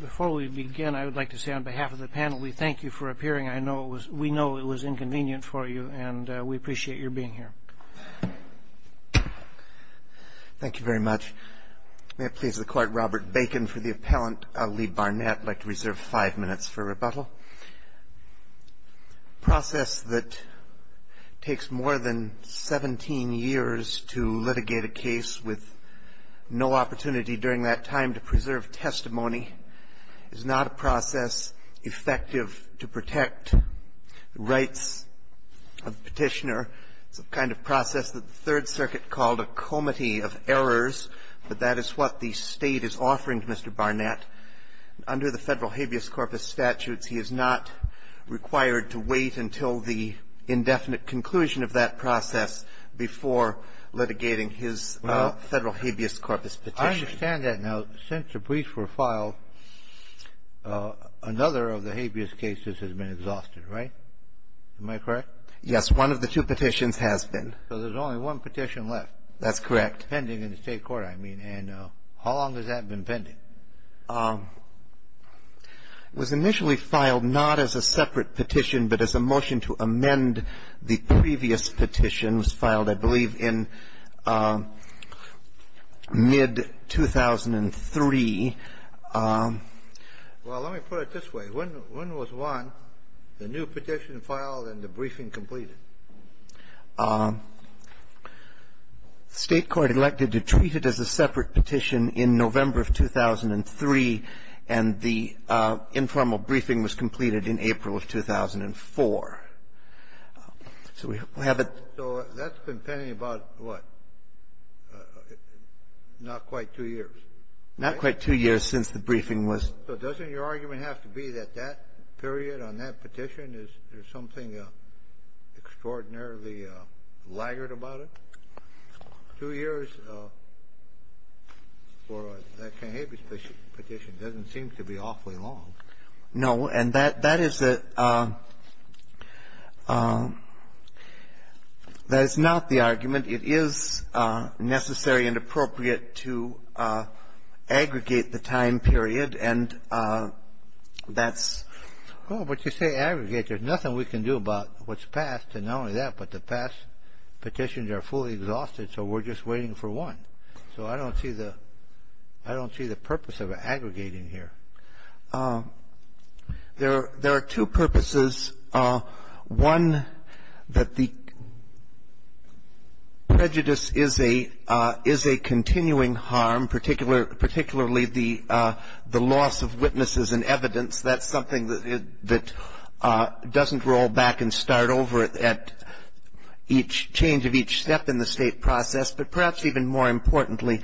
Before we begin, I would like to say on behalf of the panel, we thank you for appearing. We know it was inconvenient for you, and we appreciate your being here. Thank you very much. May it please the Court, Robert Bacon for the appellant, Ali Barnett. The process that takes more than 17 years to litigate a case with no opportunity during that time to preserve testimony is not a process effective to protect the rights of the petitioner. It's a kind of process that the Third Circuit called a comity of errors, but that is what the State is offering to Mr. Barnett. Under the Federal Habeas Corpus statutes, he is not required to wait until the indefinite conclusion of that process before litigating his Federal Habeas Corpus petition. I understand that now. Since the briefs were filed, another of the habeas cases has been exhausted, right? Am I correct? Yes. One of the two petitions has been. So there's only one petition left. That's correct. Pending in the State Court, I mean. And how long has that been pending? It was initially filed not as a separate petition, but as a motion to amend the previous petitions filed, I believe, in mid-2003. Well, let me put it this way. When was one, the new petition filed and the briefing completed? State court elected to treat it as a separate petition in November of 2003, and the informal briefing was completed in April of 2004. So we have a. So that's been pending about, what, not quite two years? Not quite two years since the briefing was. So doesn't your argument have to be that that period on that petition is there's something extraordinarily laggard about it? Two years for that Habeas Petition doesn't seem to be awfully long. No. And that is a — that is not the argument. It is necessary and appropriate to aggregate the time period, and that's — Well, but you say aggregate. There's nothing we can do about what's passed, and not only that, but the past petitions are fully exhausted, so we're just waiting for one. So I don't see the — I don't see the purpose of aggregating here. There are two purposes. One, that the prejudice is a continuing harm, particularly the loss of witnesses and evidence. That's something that doesn't roll back and start over at each change of each step in the State process. But perhaps even more importantly,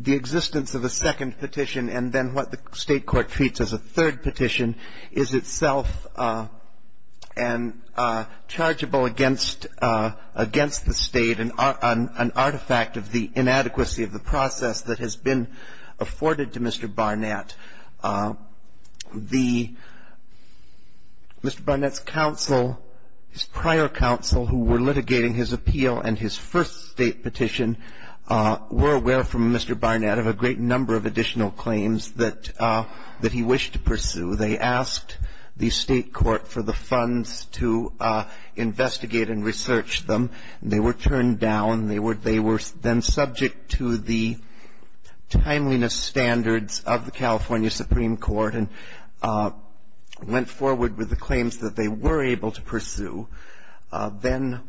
the existence of a second petition and then what the State court treats as a third petition is itself and — chargeable against the State, an artifact of the inadequacy of the process that has been afforded to Mr. Barnett. The — Mr. Barnett's counsel, his prior counsel who were litigating his appeal and his first State petition, were aware from Mr. Barnett of a great number of additional claims that he wished to pursue. They asked the State court for the funds to investigate and research them. They were turned down. They were then subject to the timeliness standards of the California Supreme Court and went forward with the claims that they were able to pursue. Then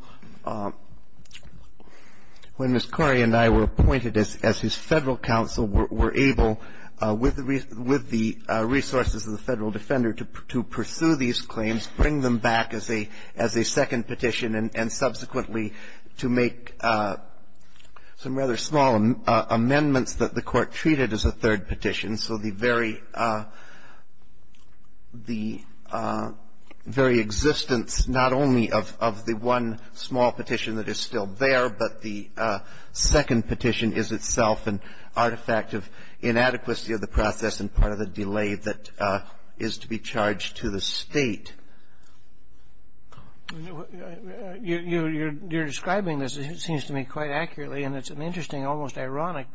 when Ms. Corey and I were appointed as his Federal counsel, we were able, with the resources of the Federal defender, to pursue these claims, bring them back as a second petition, and subsequently to make some rather small amendments that the Court treated as a third petition. And so the very — the very existence not only of the one small petition that is still there, but the second petition is itself an artifact of inadequacy of the process and part of the delay that is to be charged to the State. You're describing this, it seems to me, quite accurately, and it's an interesting, almost ironic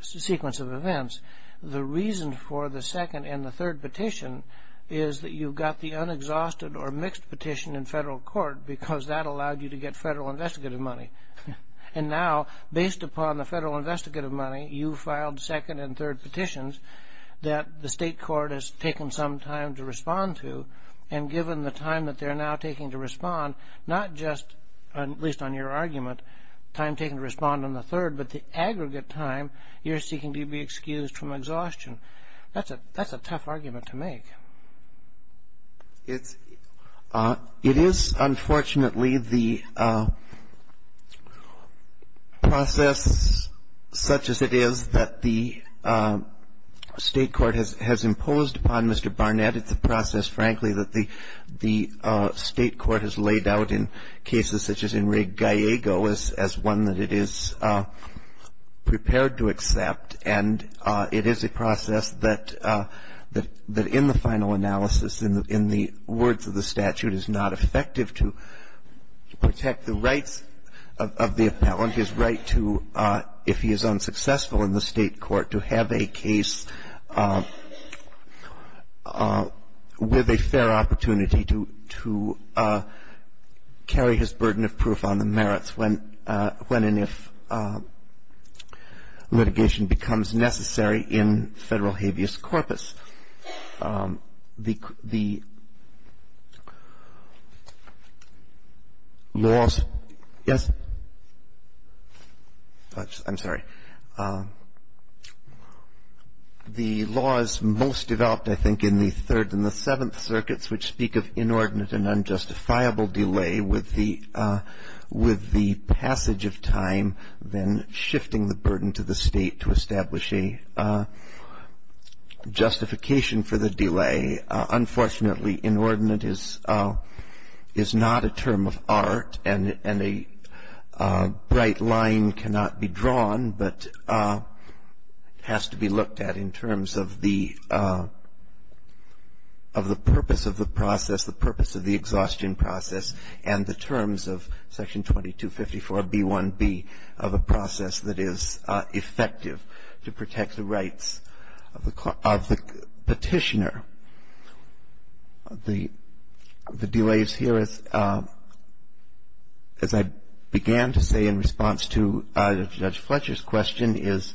sequence of events. The reason for the second and the third petition is that you've got the unexhausted or mixed petition in Federal court because that allowed you to get Federal investigative money. And now, based upon the Federal investigative money, you filed second and third petitions that the State court has taken some time to respond to, and given the time that they're now taking to respond, not just, at least on your argument, time taken to respond on the third, but the aggregate time you're seeking to be excused from exhaustion. That's a tough argument to make. It is, unfortunately, the process such as it is that the State court has imposed upon Mr. Barnett. It's a process, frankly, that the State court has laid out in cases such as Enrique Gallego as one that it is prepared to accept. And it is a process that in the final analysis, in the words of the statute, is not effective to protect the rights of the appellant, his right to, if he is unsuccessful in the State court, to have a case with a fair opportunity to carry his burden of proof on the merits when and if litigation becomes necessary in Federal habeas corpus. The laws — yes? I'm sorry. The laws most developed, I think, in the Third and the Seventh Circuits, which speak of inordinate and unjustifiable delay with the passage of time, then shifting the burden to the State to establish a justification for the delay. Unfortunately, inordinate is not a term of art, and a bright line cannot be drawn, but has to be looked at in terms of the purpose of the process, the purpose of the exhaustion process, and the terms of Section 2254B1B of a process that is effective to protect the rights of the Petitioner. The delays here, as I began to say in response to Judge Fletcher's question, is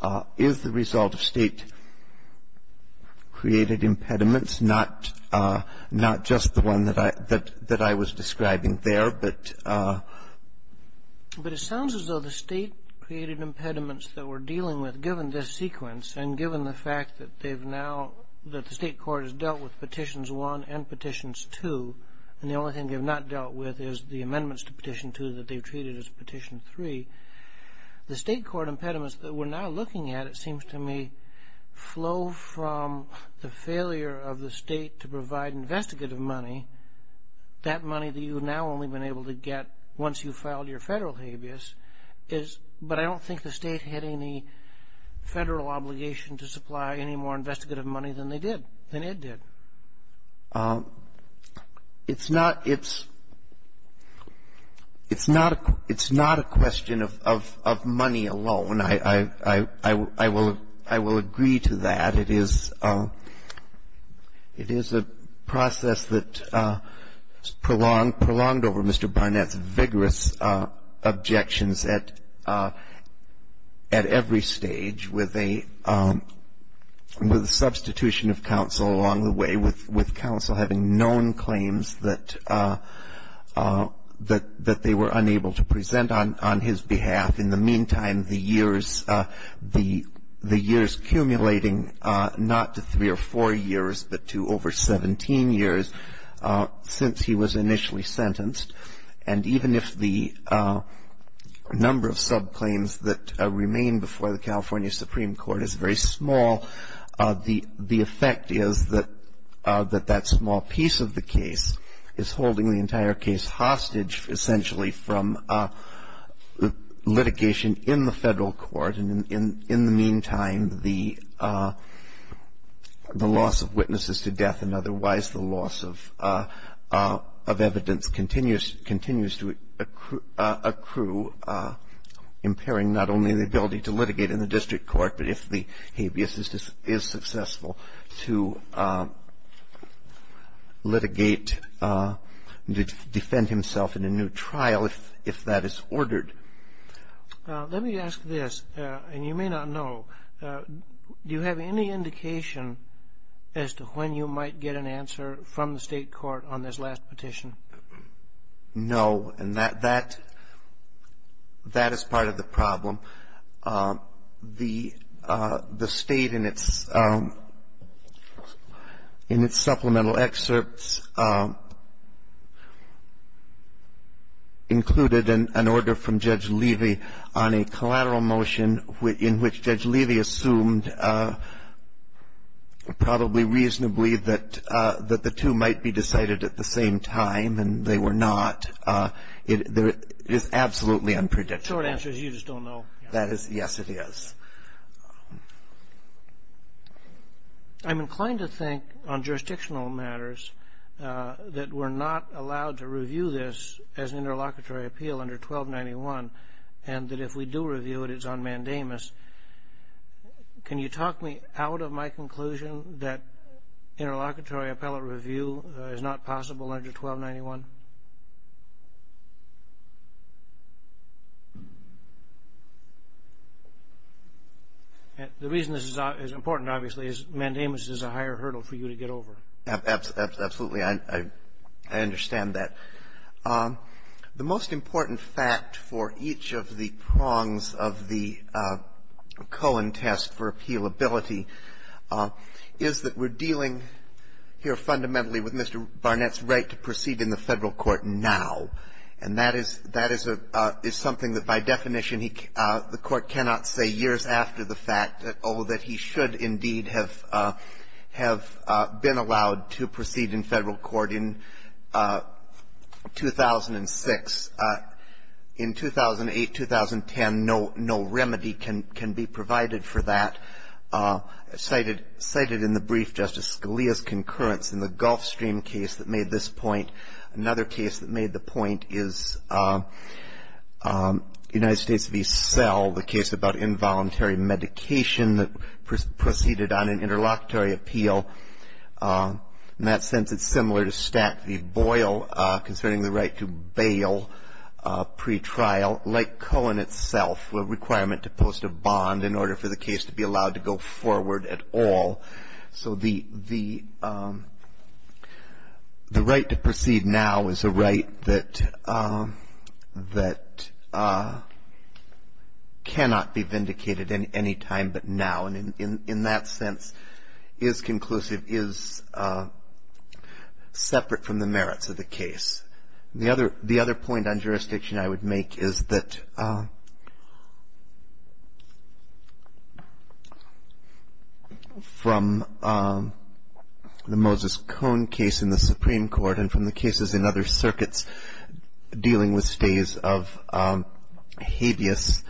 the result of State-created impediments, not just the one that I was describing there, but — But it sounds as though the State-created impediments that we're dealing with, given this sequence, and given the fact that they've now — that the State Court has dealt with Petitions 1 and Petitions 2, and the only thing they've not dealt with is the amendments to Petition 2 that they've treated as Petition 3, the State Court impediments that we're now looking at, it seems to me, flow from the failure of the State to provide investigative money, that money that you've now only been able to get once you've filed your Federal habeas, but I don't think the State had any Federal obligation to supply any more investigative money than they did, than Ed did. It's not — it's not a question of money alone. I will agree to that. It is a process that's prolonged over Mr. Barnett's vigorous objections at every stage, with a substitution of counsel along the way, with counsel having known claims that they were unable to present on his behalf. In the meantime, the years — the years accumulating not to three or four years, but to over 17 years since he was initially sentenced, and even if the number of subclaims that remain before the California Supreme Court is very small, the effect is that that small piece of the case is holding the entire case hostage, essentially, from litigation in the Federal court. And in the meantime, the loss of witnesses to death and otherwise the loss of evidence continues to accrue, impairing not only the ability to litigate in the district court, but if the habeas is successful, to litigate, to defend himself in a new trial if that is ordered. Let me ask this, and you may not know. Do you have any indication as to when you might get an answer from the State court on this last petition? No. The State, in its supplemental excerpts, included an order from Judge Levy on a collateral motion in which Judge Levy assumed probably reasonably that the two might be decided at the same time, and they were not. It is absolutely unpredictable. The short answer is you just don't know. Yes, it is. I'm inclined to think on jurisdictional matters that we're not allowed to review this as an interlocutory appeal under 1291, and that if we do review it, it's on mandamus. Can you talk me out of my conclusion that interlocutory appellate review is not possible under 1291? The reason this is important, obviously, is mandamus is a higher hurdle for you to get over. Absolutely. I understand that. The most important fact for each of the prongs of the Cohen test for appealability is that we're dealing here fundamentally with Mr. Barnett's right to proceed in the Federal Court now, and that is something that, by definition, the Court cannot say years after the fact that, oh, that he should indeed have been allowed to proceed in Federal Court in 2006. In 2008, 2010, no remedy can be provided for that. Cited in the brief, Justice Scalia's concurrence in the Gulfstream case that made this a mandatory medication that proceeded on an interlocutory appeal, in that sense, it's similar to Stack v. Boyle concerning the right to bail pretrial, like Cohen itself, a requirement to post a bond in order for the case to be allowed to go forward at all. So the right to proceed now is a right that cannot be vindicated any other way. It's a right that cannot be vindicated any time but now, and in that sense is conclusive, is separate from the merits of the case. The other point on jurisdiction I would make is that from the Moses Cohn case in the Supreme Court and from the cases in other circuits dealing with stays of habeas,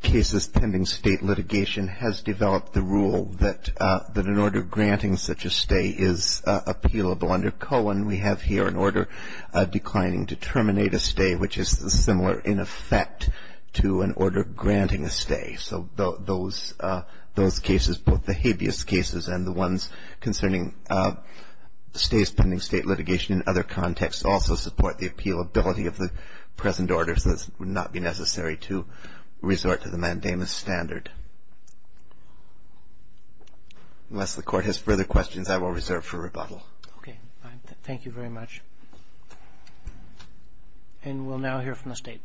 cases tend to In the case of Cohn, the Supreme Court, in its pending state litigation, has developed the rule that an order granting such a stay is appealable. Under Cohn, we have here an order declining to terminate a stay, which is similar in effect to an order granting a stay. So those cases, both the habeas cases and the ones concerning stays pending state litigation in other contexts also support the appealability of the present order, so it would not be necessary to resort to the mandamus standard. Unless the Court has further questions, I will reserve for rebuttal. Okay. Thank you very much. And we'll now hear from the State.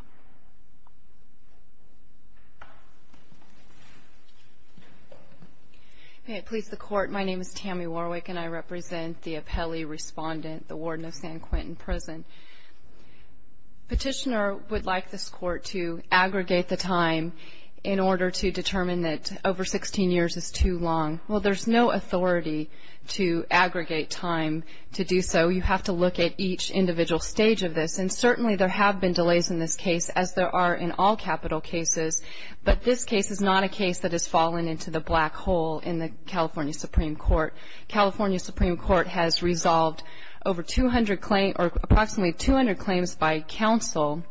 May it please the Court. My name is Tammy Warwick, and I represent the appellee respondent, the warden of San Quentin Prison. Petitioner would like this Court to aggregate the time in order to determine that over 16 years is too long. Well, there's no authority to aggregate time to do so. You have to look at each individual stage of this. And certainly there have been delays in this case, as there are in all capital cases, but this case is not a case that has fallen into the black hole in the California Supreme Court. California Supreme Court has resolved over 200 claims, or approximately 200 claims by counsel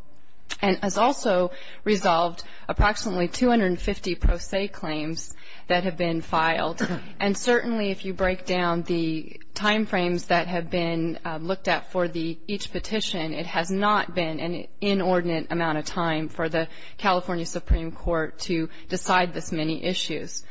and has also resolved approximately 250 pro se claims that have been filed. And certainly if you break down the time frames that have been looked at for each petition, it has not been an inordinate amount of time for the California Supreme Court to decide this many issues.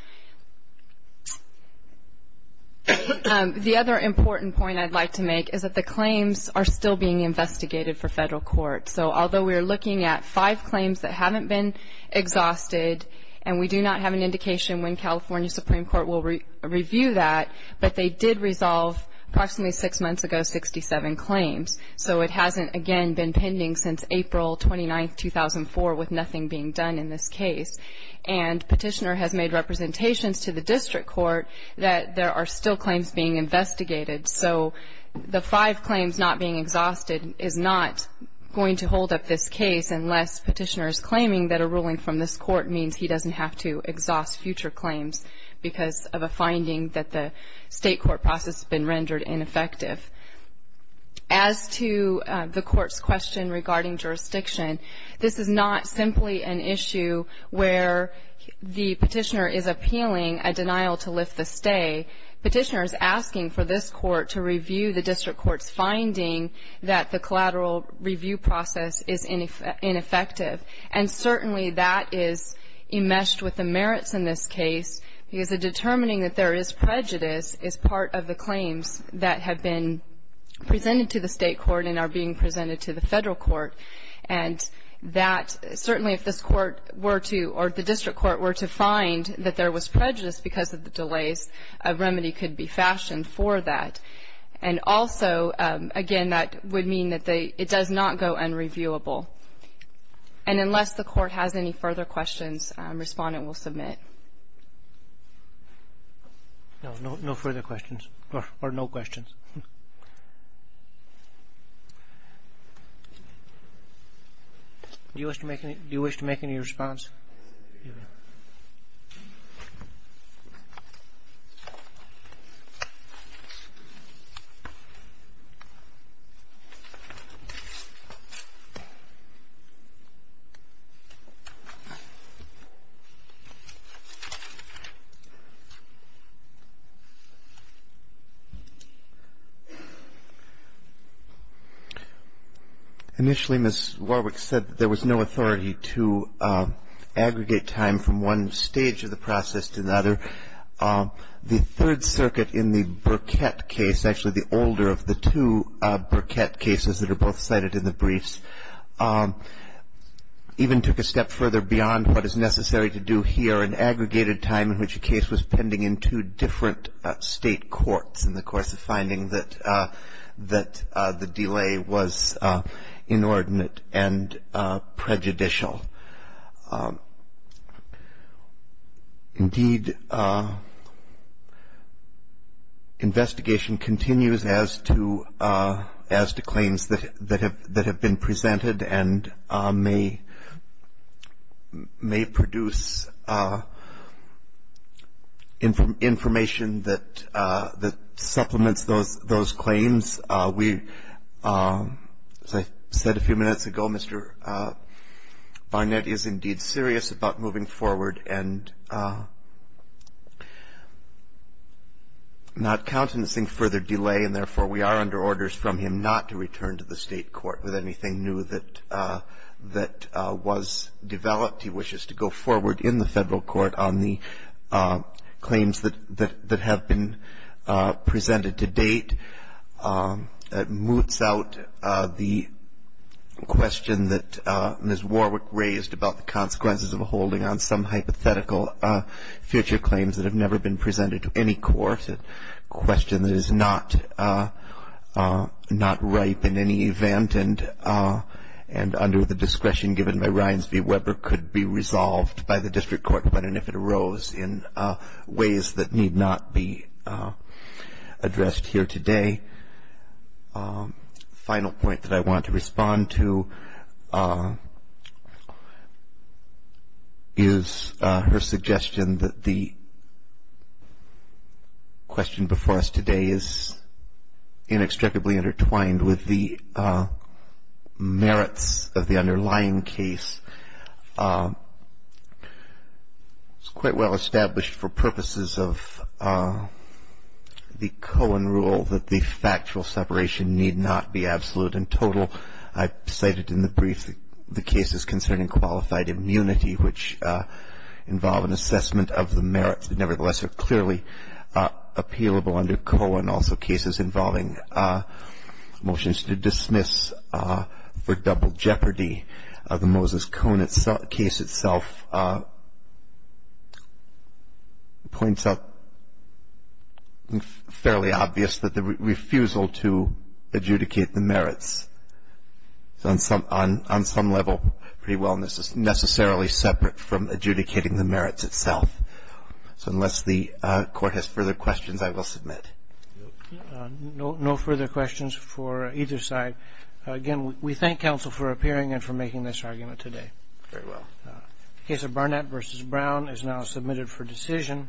The other important point I'd like to make is that the claims are still being investigated for federal court. So although we are looking at five claims that haven't been exhausted, and we do not have an indication when California Supreme Court will review that, but they did resolve approximately six months ago 67 claims. So it hasn't, again, been pending since April 29, 2004, with nothing being done in this case. And Petitioner has made representations to the district court that there are still claims being investigated. So the five claims not being exhausted is not going to hold up this case unless Petitioner is claiming that a ruling from this court means he doesn't have to exhaust future claims because of a finding that the state court process has been rendered ineffective. As to the court's question regarding jurisdiction, this is not simply an issue where the petitioner is appealing a denial to lift the stay. Petitioner is asking for this court to review the district court's finding that the collateral review process is ineffective. And certainly that is enmeshed with the merits in this case, because the determining that there is prejudice is part of the claims that have been presented to the state court and are being presented to the federal court. And that certainly if this court were to, or the district court were to find that there was prejudice because of the delays, a remedy could be fashioned for that. And also, again, that would mean that it does not go unreviewable. And unless the court has any further questions, Respondent will submit. No, no further questions, or no questions. Do you wish to make any response? Initially, Ms. Warwick said that there was no authority to aggregate time from one stage of the process to another. The Third Circuit in the Burkett case, actually the older of the two Burkett cases that are both cited in the briefs, even took a step further beyond what is necessary to do here for an aggregated time in which a case was pending in two different state courts in the course of finding that the delay was inordinate and prejudicial. Indeed, investigation continues as to claims that have been presented and may produce information that supplements those claims. As I said a few minutes ago, Mr. Barnett is indeed serious about moving forward and not countenancing further delay. And therefore, we are under orders from him not to return to the State court with anything new that was developed. He wishes to go forward in the Federal court on the claims that have been presented to date. That moots out the question that Ms. Warwick raised about the consequences of holding on some hypothetical future claims that have never been presented to any court, a question that is not ripe in any event and under the discretion given by Ryans v. Weber could be resolved by the District Court when and if it arose in ways that need not be addressed here today. The final point that I want to respond to is her suggestion that the question before us today is inextricably intertwined with the merits of the underlying case. It's quite well established for purposes of the Cohen rule that the factual separation need not be absolute and total. I cited in the brief the cases concerning qualified immunity, which involve an assessment of the merits that nevertheless are clearly appealable under Cohen. And also cases involving motions to dismiss for double jeopardy. The Moses-Cohen case itself points out fairly obvious that the refusal to adjudicate the merits is on some level pretty well necessarily separate from adjudicating the merits itself. So unless the court has further questions, I will submit. No further questions for either side. Again, we thank counsel for appearing and for making this argument today. Very well. The case of Barnett v. Brown is now submitted for decision.